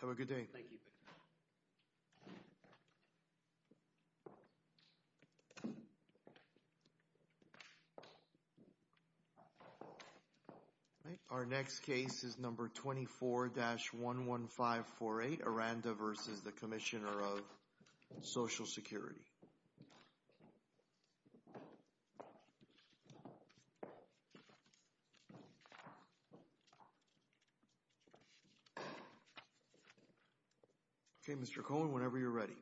Have a good day. Thank you. Thank you. Our next case is number 24-11548, Aranda v. Commissioner of Social Security. Okay, Mr. Cohen, whenever you're ready.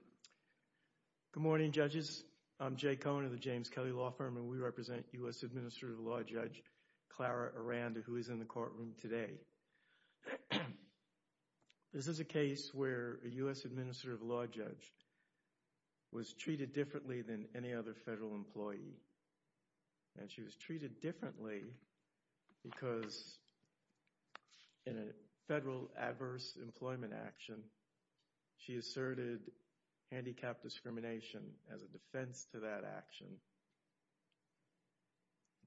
Good morning, judges. I'm Jay Cohen of the James Kelly Law Firm, and we represent U.S. Administrative Law Judge Clara Aranda, who is in the courtroom today. This is a case where a U.S. Administrative Law Judge was treated differently than any other federal employee. And she was treated differently because in a federal adverse employment action, she asserted handicapped discrimination as a defense to that action.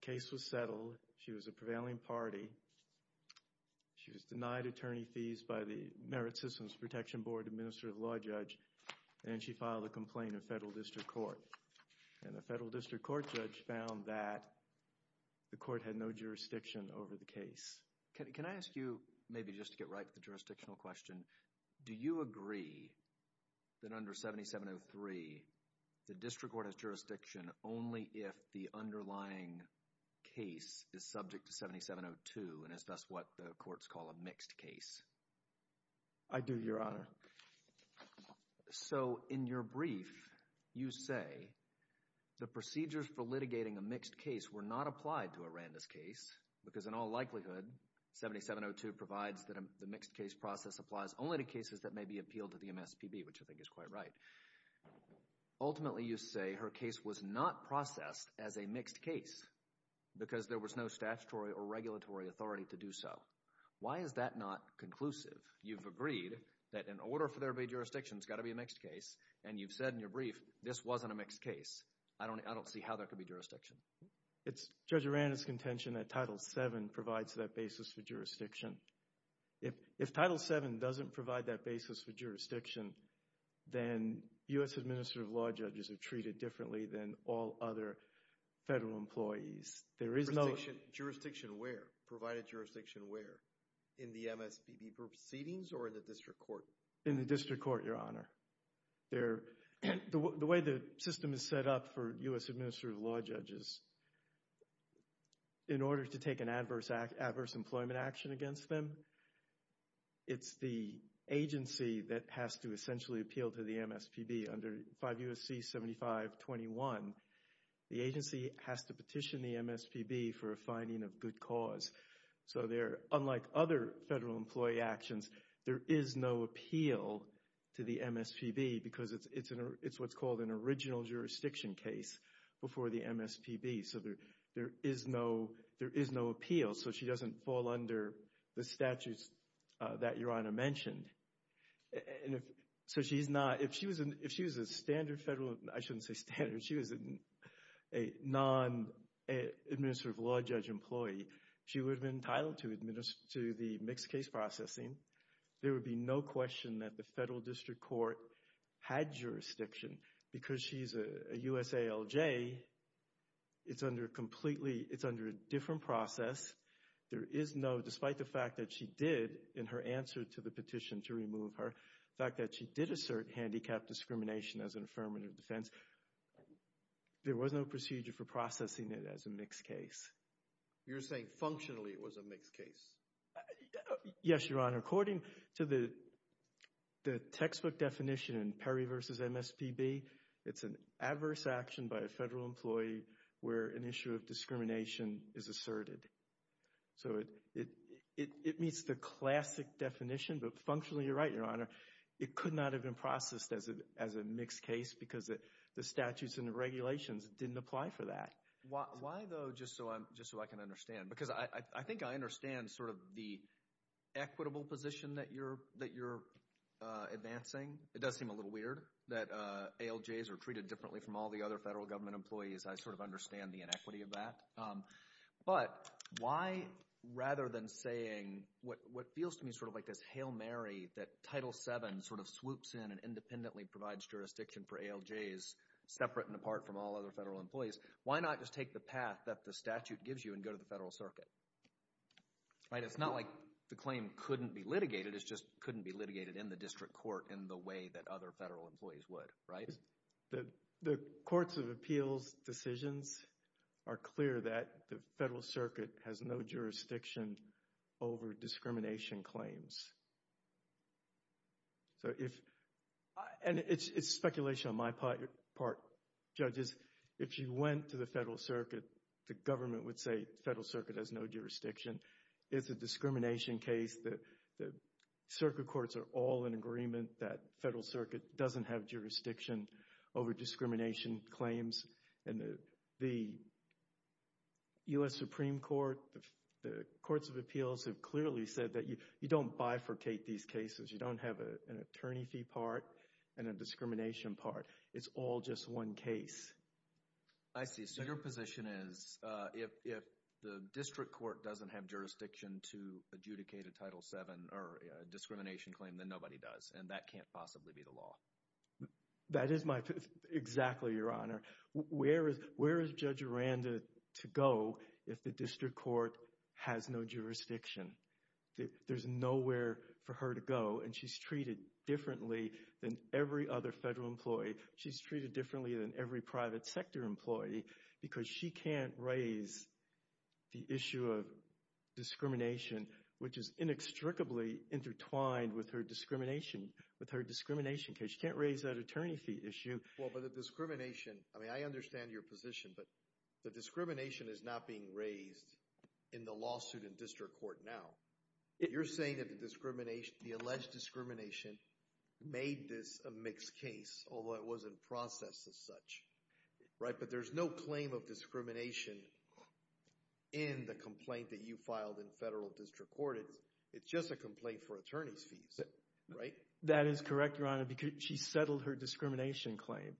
The case was settled. She was a prevailing party. She was denied attorney fees by the Merit Systems Protection Board Administrative Law Judge, and she filed a complaint in federal district court. And the federal district court judge found that the court had no jurisdiction over the Can I ask you, maybe just to get right to the jurisdictional question, do you agree that under 7703, the district court has jurisdiction only if the underlying case is subject to 7702 and is thus what the courts call a mixed case? I do, Your Honor. So in your brief, you say the procedures for litigating a mixed case were not applied to Aranda's case because in all likelihood, 7702 provides that the mixed case process applies only to cases that may be appealed to the MSPB, which I think is quite right. Ultimately, you say her case was not processed as a mixed case because there was no statutory or regulatory authority to do so. Why is that not conclusive? You've agreed that in order for there to be jurisdiction, it's got to be a mixed case, and you've said in your brief, this wasn't a mixed case. I don't see how there could be jurisdiction. It's Judge Aranda's contention that Title VII provides that basis for jurisdiction. If Title VII doesn't provide that basis for jurisdiction, then U.S. Administrative Law Judges are treated differently than all other federal employees. There is no... Jurisdiction where? Provided jurisdiction where? In the MSPB proceedings or in the district court? In the district court, Your Honor. The way the system is set up for U.S. Administrative Law Judges, in order to take an adverse employment action against them, it's the agency that has to essentially appeal to the MSPB. Under 5 U.S.C. 7521, the agency has to petition the MSPB for a finding of good cause. So there, unlike other federal employee actions, there is no appeal to the MSPB because it's what's called an original jurisdiction case before the MSPB. So there is no appeal so she doesn't fall under the statutes that Your Honor mentioned. So she's not... If she was a standard federal... I shouldn't say standard. If she was a non-Administrative Law Judge employee, she would've been entitled to the mixed case processing. There would be no question that the federal district court had jurisdiction. Because she's a USALJ, it's under a completely... It's under a different process. There is no... Despite the fact that she did, in her answer to the petition to remove her, the fact that she did assert handicap discrimination as an affirmative defense, there was no procedure for processing it as a mixed case. You're saying functionally it was a mixed case? Yes, Your Honor. According to the textbook definition in Perry v. MSPB, it's an adverse action by a federal employee where an issue of discrimination is asserted. So it meets the classic definition, but functionally you're right, Your Honor. It could not have been processed as a mixed case because the statutes and the regulations didn't apply for that. Why though, just so I can understand? Because I think I understand sort of the equitable position that you're advancing. It does seem a little weird that ALJs are treated differently from all the other federal government employees. I sort of understand the inequity of that. But why, rather than saying what feels to me sort of like this Hail Mary that Title VII sort of swoops in and independently provides jurisdiction for ALJs, separate and apart from all other federal employees, why not just take the path that the statute gives you and go to the federal circuit? Right? It's not like the claim couldn't be litigated, it just couldn't be litigated in the district court in the way that other federal employees would, right? The courts of appeals decisions are clear that the federal circuit has no jurisdiction over discrimination claims. So if, and it's speculation on my part, Judges, if you went to the federal circuit, the government would say the federal circuit has no jurisdiction. It's a discrimination case. The circuit courts are all in agreement that the federal circuit doesn't have jurisdiction over discrimination claims. And the U.S. Supreme Court, the courts of appeals have clearly said that you don't bifurcate these cases. You don't have an attorney fee part and a discrimination part. It's all just one case. I see. So your position is if the district court doesn't have jurisdiction to adjudicate a Title VII or a discrimination claim, then nobody does, and that can't possibly be the law. That is my, exactly, Your Honor. Where is Judge Aranda to go if the district court has no jurisdiction? There's nowhere for her to go, and she's treated differently than every other federal employee. She's treated differently than every private sector employee because she can't raise the issue of discrimination, which is inextricably intertwined with her discrimination case. She can't raise that attorney fee issue. Well, but the discrimination, I mean, I understand your position, but the discrimination is not being raised in the lawsuit in district court now. You're saying that the alleged discrimination made this a mixed case, although it wasn't processed as such, right? But there's no claim of discrimination in the complaint that you filed in federal district court. It's just a complaint for attorney's fees, right? That is correct, Your Honor, because she settled her discrimination claim.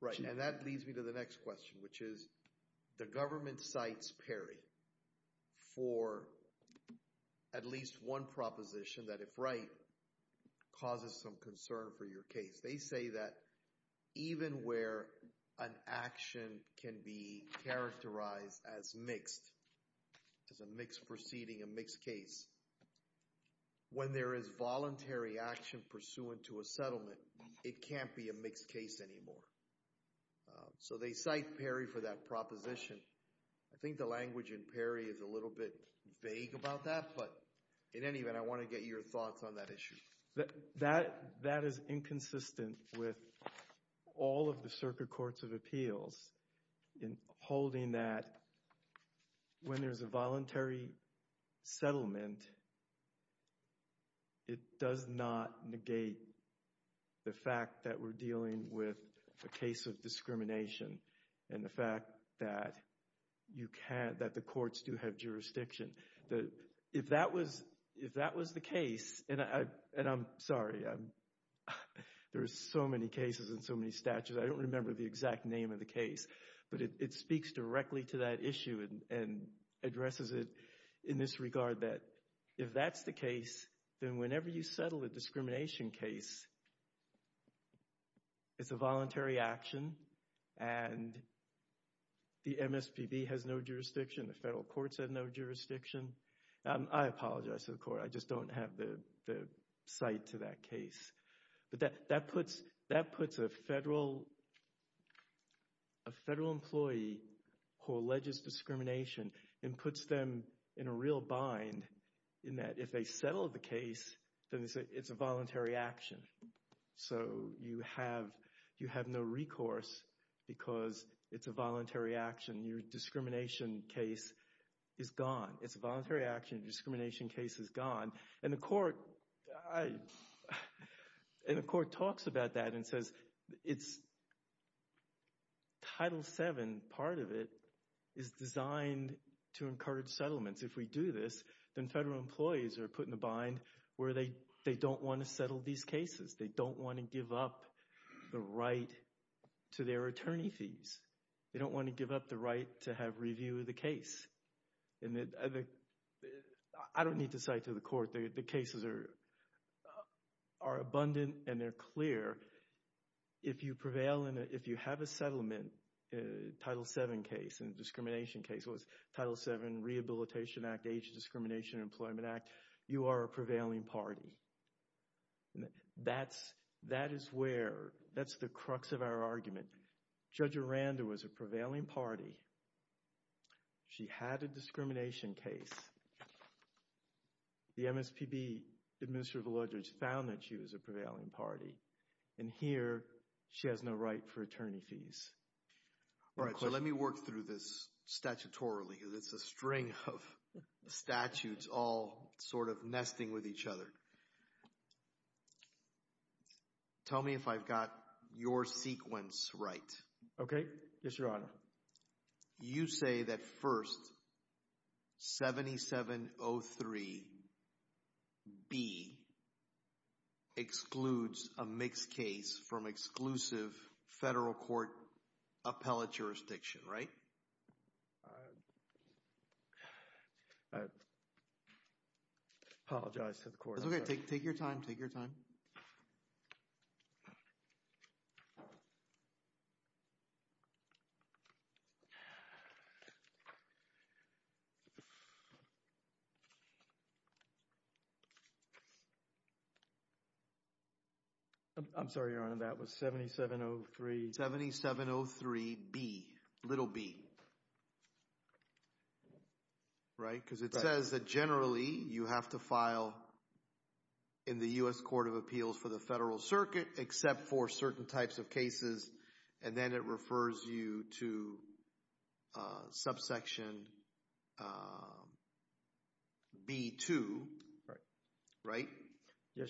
Right, and that leads me to the next question, which is the government cites Perry for at least one proposition that, if right, causes some concern for your case. They say that even where an action can be characterized as mixed, as a mixed proceeding, a mixed case, when there is voluntary action pursuant to a settlement, it can't be a mixed case anymore. So they cite Perry for that proposition. I think the language in Perry is a little bit vague about that, but in any event, I want to get your thoughts on that issue. That is inconsistent with all of the circuit courts of appeals in holding that when there's a voluntary settlement, it does not negate the fact that we're dealing with a case of discrimination and the fact that you can't, that the courts do have jurisdiction. If that was the case, and I'm sorry, there's so many cases and so many statutes, I don't remember the exact name of the case, but it speaks directly to that issue and addresses it in this regard that, if that's the case, then whenever you settle a discrimination case, it's a voluntary action and the MSPB has no jurisdiction, the federal courts have no jurisdiction. I apologize to the court, I just don't have the cite to that case, but that puts a federal employee who alleges discrimination and puts them in a real bind in that if they settle the case, then they say it's a voluntary action. So you have no recourse because it's a voluntary action. Your discrimination case is gone. It's a voluntary action. Your discrimination case is gone. And the court, and the court talks about that and says, Title VII, part of it, is designed to encourage settlements. If we do this, then federal employees are put in a bind where they don't want to settle these cases. They don't want to give up the right to their attorney fees. They don't want to give up the right to have review of the case. And I don't need to cite to the court, the cases are abundant and they're clear. If you prevail and if you have a settlement, Title VII case and discrimination case, Title VII Rehabilitation Act, Age Discrimination Employment Act, you are a prevailing party. That is where, that's the crux of our argument. Judge Aranda was a prevailing party. She had a discrimination case. The MSPB, Administrator Veledridge, found that she was a prevailing party. And here, she has no right for attorney fees. All right, so let me work through this statutorily because it's a string of statutes all sort of nesting with each other. Tell me if I've got your sequence right. Okay. Yes, Your Honor. You say that first, 7703B excludes a mixed case from exclusive federal court appellate jurisdiction, right? I apologize to the court. It's okay. Take your time. Take your time. I'm sorry, Your Honor, that was 7703- 7703B, little b, right, because it says that generally you have to file in the U.S. Court of Appeals for the Federal Circuit except for certain types of cases, and then it refers you to subsection B2, right,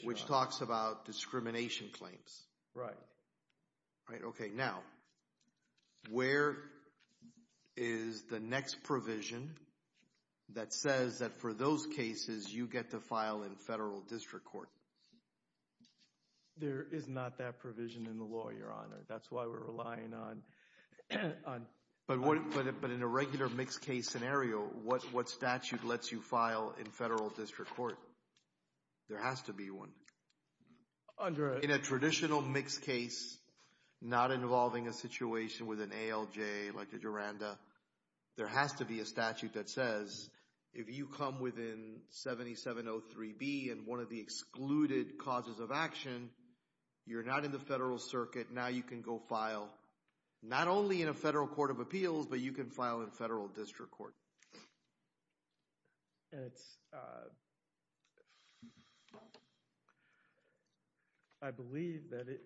which talks about discrimination claims. Right. Right. Okay, now, where is the next provision that says that for those cases, you get to file in federal district court? There is not that provision in the law, Your Honor. That's why we're relying on... But in a regular mixed case scenario, what statute lets you file in federal district court? There has to be one. In a traditional mixed case, not involving a situation with an ALJ like a Duranda, there has to be a statute that says if you come within 7703B and one of the excluded causes of action, you're not in the federal circuit, now you can go file not only in a federal court of appeals, but you can file in federal district court. And it's... I believe that it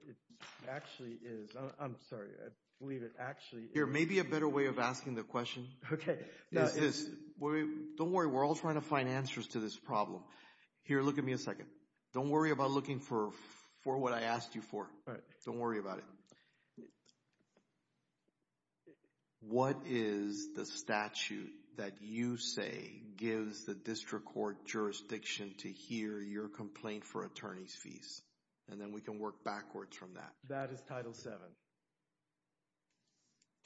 actually is... I'm sorry, I believe it actually... Here, maybe a better way of asking the question... Okay.... is this. Don't worry, we're all trying to find answers to this problem. Here, look at me a second. Don't worry about looking for what I asked you for. All right. Don't worry about it. What is the statute that you say gives the district court jurisdiction to hear your complaint for attorney's fees? And then we can work backwards from that. That is Title VII.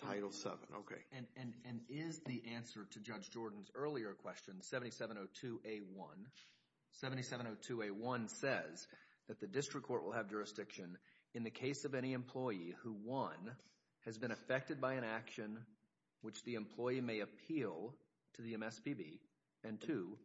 Title VII, okay. And is the answer to Judge Jordan's earlier question, 7702A1... 7702A1 says that the has been affected by an action which the employee may appeal to the MSPB, and 2...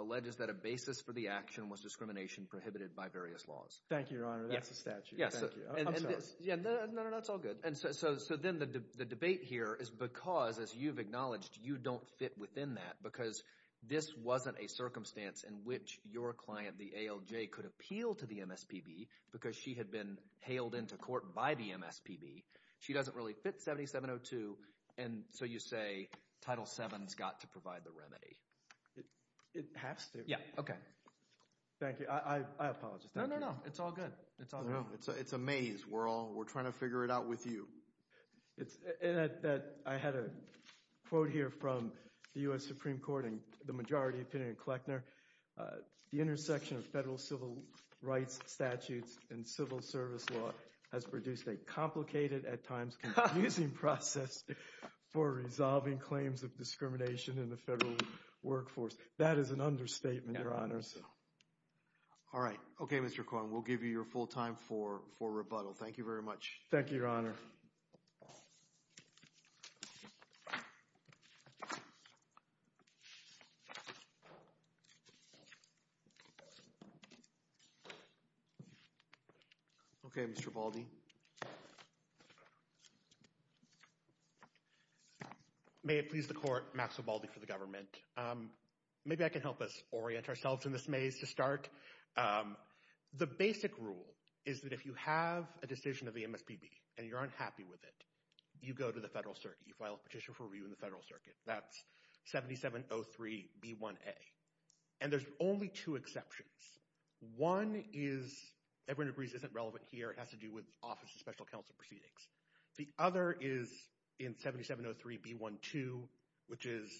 alleges that a basis for the action was discrimination prohibited by various laws. Thank you, Your Honor. That's the statute. Thank you. I'm sorry. No, no, no. That's all good. And so then the debate here is because, as you've acknowledged, you don't fit within that because this wasn't a circumstance in which your client, the ALJ, could appeal to the MSPB because she had been hailed into court by the MSPB. She doesn't really fit 7702, and so you say Title VII's got to provide the remedy. It has to. Yeah. Okay. Thank you. I apologize. No, no, no. It's all good. It's all good. It's a maze. We're trying to figure it out with you. I had a quote here from the U.S. Supreme Court and the majority opinion in Kleckner. The intersection of federal civil rights statutes and civil service law has produced a complicated, at times confusing, process for resolving claims of discrimination in the federal workforce. That is an understatement, Your Honor. All right. Okay, Mr. Korn. We'll give you your full time for rebuttal. Thank you very much. Thank you, Your Honor. Okay, Mr. Baldy. May it please the Court, Maxwell Baldy for the government. Maybe I can help us orient ourselves in this maze to start. The basic rule is that if you have a decision of the MSPB and you're unhappy with it, you go to the federal circuit. You file a petition for review in the federal circuit. That's 7703B1A. And there's only two exceptions. One is, everyone agrees, isn't relevant here. It has to do with Office of Special Counsel proceedings. The other is in 7703B12, which is,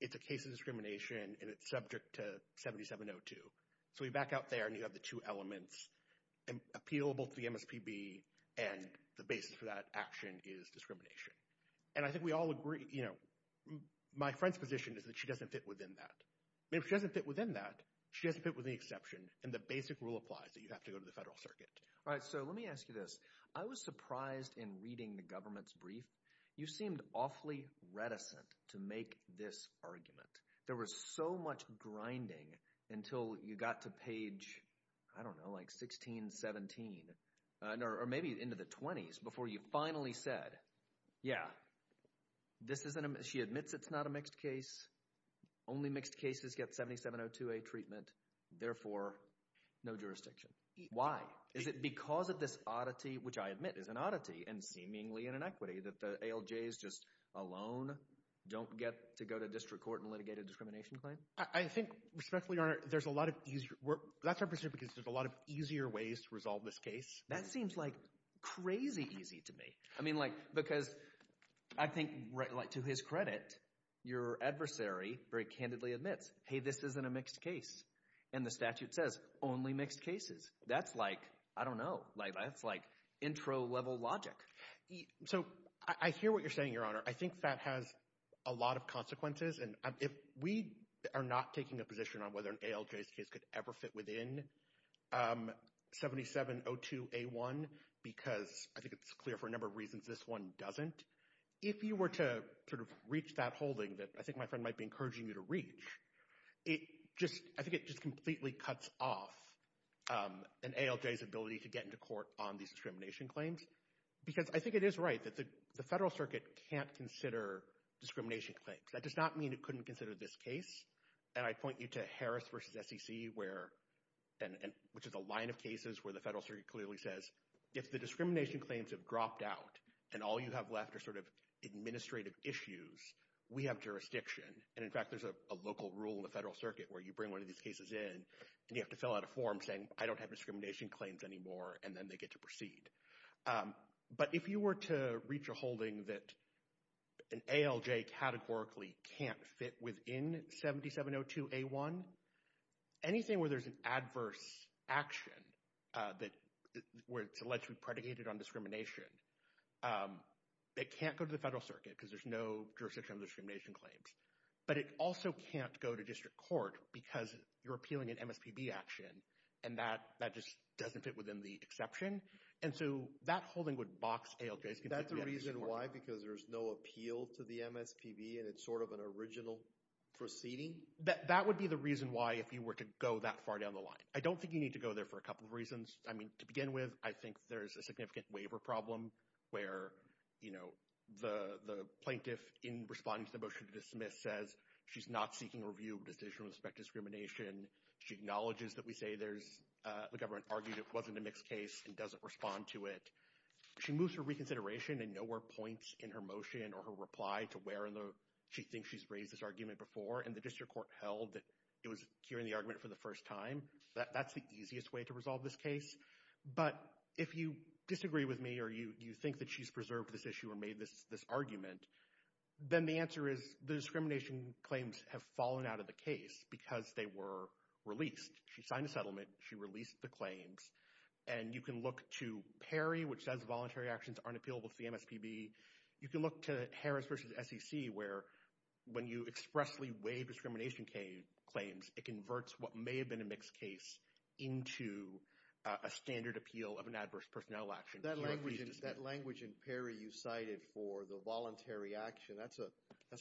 it's a case of discrimination and it's subject to 7702. So you back out there and you have the two elements, appealable to the MSPB and the basis for that action is discrimination. And I think we all agree, you know, my friend's position is that she doesn't fit within that. I mean, if she doesn't fit within that, she doesn't fit within the exception and the basic rule applies that you have to go to the federal circuit. All right. So let me ask you this. I was surprised in reading the government's brief. You seemed awfully reticent to make this argument. There was so much grinding until you got to page, I don't know, like 16, 17, or maybe into the 20s before you finally said, yeah, this isn't, she admits it's not a mixed case. Only mixed cases get 7702A treatment, therefore no jurisdiction. Why? Is it because of this oddity, which I admit is an oddity and seemingly an inequity that ALJs just alone don't get to go to district court and litigate a discrimination claim? I think respectfully, Your Honor, there's a lot of, that's our position because there's a lot of easier ways to resolve this case. That seems like crazy easy to me. I mean, like, because I think, like to his credit, your adversary very candidly admits, hey, this isn't a mixed case. And the statute says only mixed cases. That's like, I don't know, like that's like intro level logic. So I hear what you're saying, Your Honor. I think that has a lot of consequences. And if we are not taking a position on whether an ALJ's case could ever fit within 7702A1, because I think it's clear for a number of reasons this one doesn't. If you were to sort of reach that holding that I think my friend might be encouraging you to reach, it just, I think it just completely cuts off an ALJ's ability to get into court on these discrimination claims. Because I think it is right that the Federal Circuit can't consider discrimination claims. That does not mean it couldn't consider this case. And I point you to Harris versus SEC where, which is a line of cases where the Federal Circuit clearly says, if the discrimination claims have dropped out and all you have left are sort of administrative issues, we have jurisdiction. And in fact, there's a local rule in the Federal Circuit where you bring one of these cases in and you have to fill out a form saying I don't have discrimination claims anymore and then they get to proceed. But if you were to reach a holding that an ALJ categorically can't fit within 7702A1, anything where there's an adverse action that, where it's allegedly predicated on discrimination, it can't go to the Federal Circuit because there's no jurisdiction on discrimination claims. But it also can't go to district court because you're appealing an MSPB action and that just doesn't fit within the exception. And so that holding would box ALJs. Is that the reason why? Because there's no appeal to the MSPB and it's sort of an original proceeding? That would be the reason why if you were to go that far down the line. I don't think you need to go there for a couple of reasons. I mean, to begin with, I think there's a significant waiver problem where, you know, the plaintiff in responding to the motion to dismiss says she's not seeking review of decision with respect to discrimination. She acknowledges that we say there's, the government argued it wasn't a mixed case and doesn't respond to it. She moves her reconsideration and nowhere points in her motion or her reply to where in the, she thinks she's raised this argument before. And the district court held that it was hearing the argument for the first time. That's the easiest way to resolve this case. But if you disagree with me or you think that she's preserved this issue or made this argument, then the answer is the discrimination claims have fallen out of the case because they were released. She signed the settlement. She released the claims. And you can look to PERI, which says voluntary actions aren't appealable to the MSPB. You can look to Harris versus SEC where when you expressly waive discrimination claims, it converts what may have been a mixed case into a standard appeal of an adverse personnel action. That language in PERI you cited for the voluntary action, that's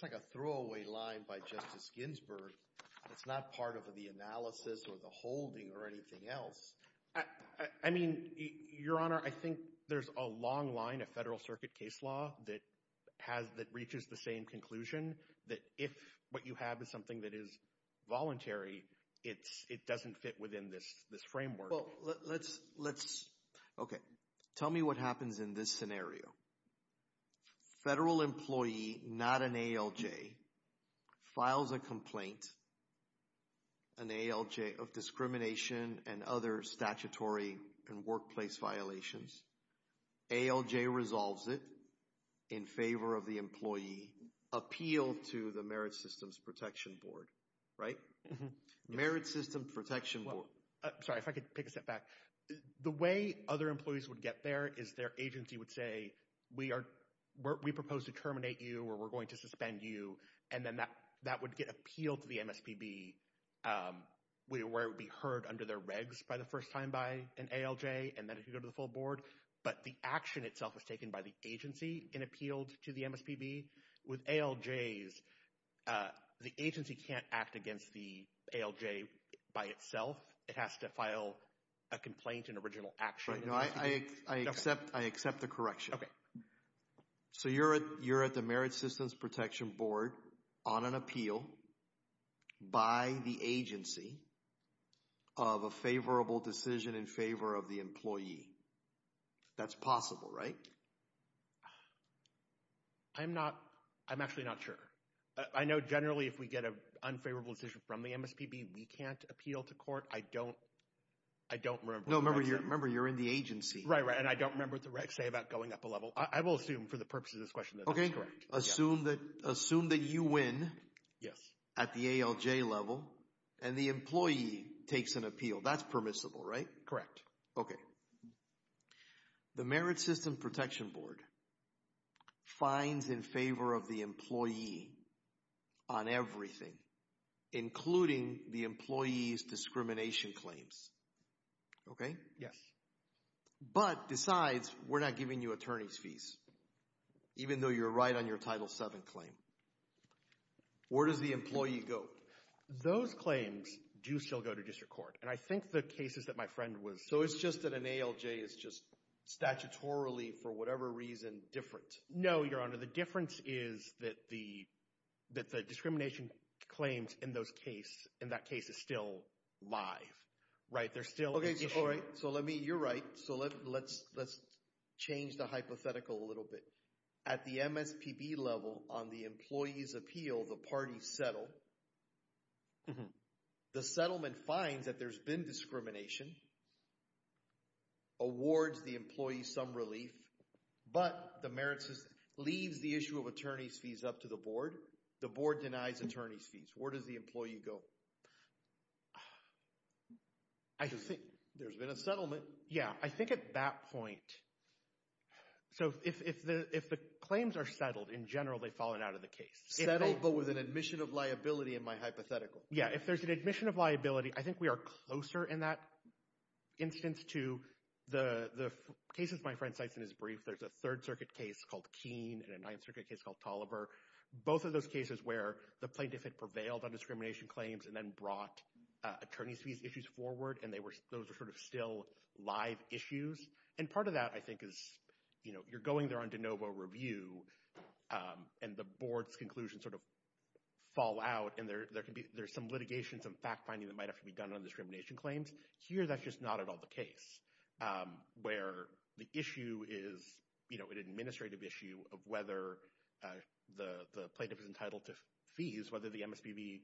like a throwaway line by Justice Ginsburg that's not part of the analysis or the holding or anything else. I mean, Your Honor, I think there's a long line of federal circuit case law that reaches the same conclusion that if what you have is something that is voluntary, it doesn't fit within this framework. Well, let's, let's, okay. Tell me what happens in this scenario. Federal employee, not an ALJ, files a complaint, an ALJ of discrimination and other statutory and workplace violations, ALJ resolves it in favor of the employee, appeal to the Merit Systems Protection Board, right? Merit Systems Protection Board. Sorry, if I could take a step back. The way other employees would get there is their agency would say, we are, we propose to terminate you or we're going to suspend you, and then that would get appealed to the MSPB where it would be heard under their regs by the first time by an ALJ and then it would go to the full board. But the action itself is taken by the agency and appealed to the MSPB. With ALJs, the agency can't act against the ALJ by itself. It has to file a complaint, an original action. No, I accept, I accept the correction. So you're at, you're at the Merit Systems Protection Board on an appeal by the agency of a favorable decision in favor of the employee. That's possible, right? I'm not, I'm actually not sure. I know generally if we get an unfavorable decision from the MSPB, we can't appeal to court. I don't, I don't remember. No, remember, you're in the agency. Right, right, and I don't remember what the regs say about going up a level. I will assume for the purposes of this question that that's correct. Okay, assume that you win at the ALJ level and the employee takes an appeal. That's permissible, right? Correct. Okay. So, the Merit Systems Protection Board fines in favor of the employee on everything, including the employee's discrimination claims, okay? Yes. But, besides, we're not giving you attorney's fees, even though you're right on your Title VII claim. Where does the employee go? Those claims do still go to district court, and I think the cases that my friend was, So, it's just that an ALJ is just statutorily, for whatever reason, different. No, Your Honor. The difference is that the discrimination claims in those cases, in that case, is still live. Right? There's still, Okay. So, let me, you're right. So, let's change the hypothetical a little bit. At the MSPB level, on the employee's appeal, the parties settle, the settlement fines that there's been discrimination, awards the employee some relief, but the Merit System leaves the issue of attorney's fees up to the board. The board denies attorney's fees. Where does the employee go? I just think, there's been a settlement. Yeah, I think at that point, so if the claims are settled, in general, they've fallen out of the case. Settled, but with an admission of liability in my hypothetical. Yeah, if there's an admission of liability, I think we are closer in that instance to the cases my friend cites in his brief. There's a Third Circuit case called Keene and a Ninth Circuit case called Toliver. Both of those cases where the plaintiff had prevailed on discrimination claims and then brought attorney's fees issues forward, and those were sort of still live issues. And part of that, I think, is you're going there on de novo review, and the board's conclusion sort of fall out, and there's some litigation, some fact-finding that might have to be done on discrimination claims. Here, that's just not at all the case. Where the issue is an administrative issue of whether the plaintiff is entitled to fees, whether the MSPB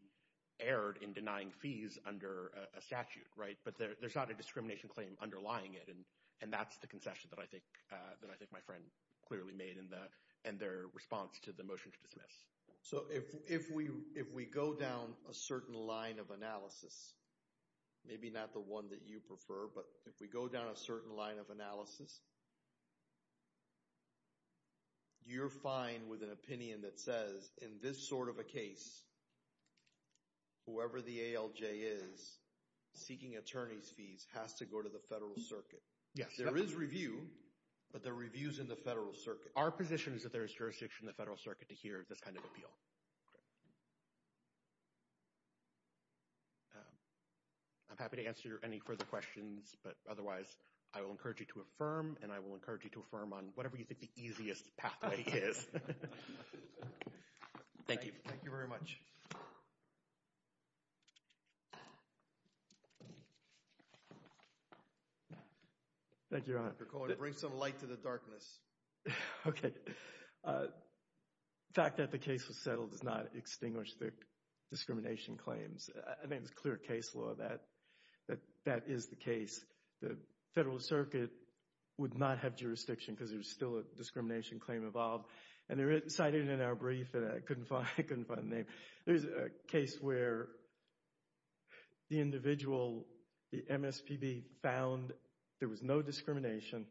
erred in denying fees under a statute, right? But there's not a discrimination claim underlying it, and that's the concession that I think my friend clearly made in their response to the motion to dismiss. So if we go down a certain line of analysis, maybe not the one that you prefer, but if we go down a certain line of analysis, you're fine with an opinion that says, in this sort of a case, whoever the ALJ is seeking attorney's fees has to go to the Federal Circuit. Yes. There is review, but the review's in the Federal Circuit. Our position is that there is jurisdiction in the Federal Circuit to hear this kind of Okay. I'm happy to answer any further questions, but otherwise, I will encourage you to affirm, and I will encourage you to affirm on whatever you think the easiest pathway is. Thank you. Thank you very much. Thank you, Your Honor. Thank you, Dr. Cohen. Bring some light to the darkness. Okay. The fact that the case was settled does not extinguish the discrimination claims. I think it's clear case law that that is the case. The Federal Circuit would not have jurisdiction because there's still a discrimination claim involved, and they're cited in our brief, and I couldn't find the name. There's a case where the individual, the MSPB, found there was no discrimination.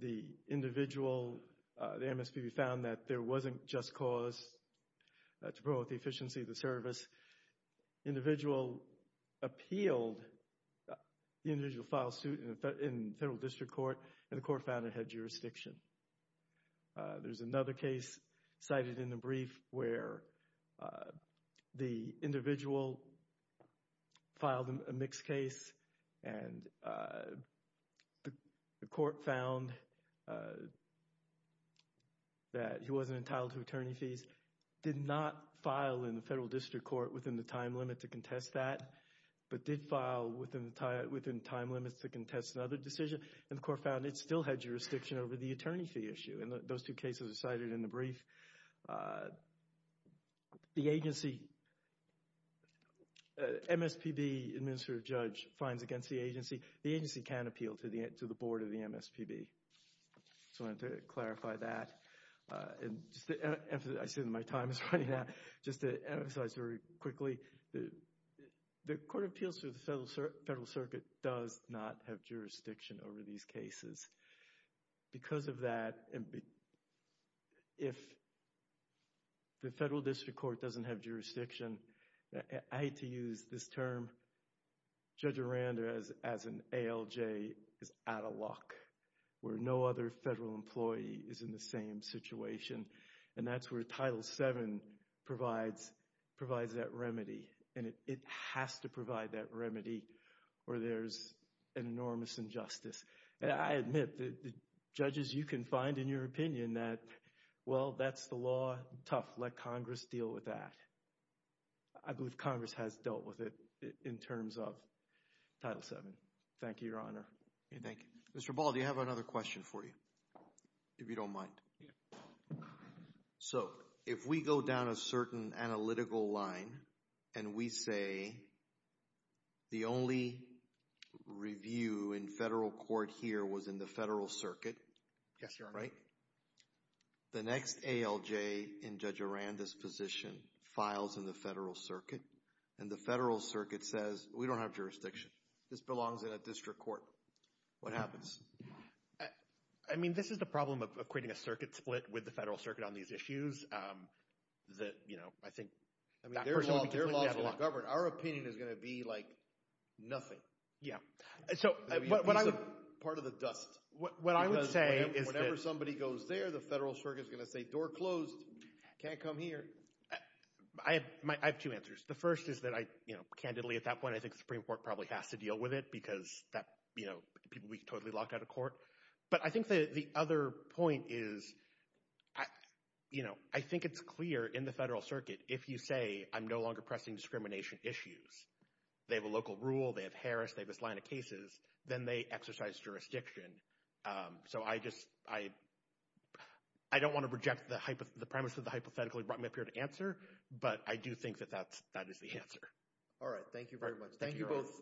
The individual, the MSPB, found that there wasn't just cause to promote the efficiency of the service. The individual appealed the individual file suit in Federal District Court, and the court found it had jurisdiction. There's another case cited in the brief where the individual filed a mixed case, and the court found that he wasn't entitled to attorney fees, did not file in the Federal District Court within the time limit to contest that, but did file within time limits to contest another decision, and the court found it still had jurisdiction over the attorney fee issue, and those two cases are cited in the brief. The agency, MSPB administrative judge finds against the agency, the agency can appeal to the board of the MSPB, so I wanted to clarify that, and just to emphasize, I see that my time is running out, just to emphasize very quickly, the Court of Appeals to the Federal Circuit does not have jurisdiction over these cases. Because of that, if the Federal District Court doesn't have jurisdiction, I hate to use this term, Judge Aranda, as an ALJ, is out of luck, where no other Federal employee is in the same situation, and that's where Title VII provides that remedy, and it has to provide that remedy, or there's an enormous injustice, and I admit that the judges, you can find in your opinion that, well, that's the law, tough, let Congress deal with that. I believe Congress has dealt with it in terms of Title VII. Thank you, Your Honor. Thank you. Mr. Ball, do you have another question for you, if you don't mind? Yeah. So, if we go down a certain analytical line, and we say, the only review in federal court here was in the Federal Circuit, right, the next ALJ in Judge Aranda's position files in the Federal Circuit, and the Federal Circuit says, we don't have jurisdiction, this belongs in a district court, what happens? I mean, this is the problem of creating a circuit split with the Federal Circuit on these issues, that, you know, I think that person would be completely out of luck. I mean, their law is going to govern. Our opinion is going to be like nothing. Yeah. So, what I would... Part of the dust. What I would say is that... Because whenever somebody goes there, the Federal Circuit is going to say, door closed, can't come here. I have two answers. The first is that I, you know, candidly, at that point, I think the Supreme Court probably has to deal with it, because that, you know, people would be totally locked out of court. But I think that the other point is, you know, I think it's clear in the Federal Circuit, if you say, I'm no longer pressing discrimination issues, they have a local rule, they have Harris, they have this line of cases, then they exercise jurisdiction. So I just, I don't want to reject the premise of the hypothetical you brought me up here to answer, but I do think that that is the answer. All right. Thank you very much. Thank you both.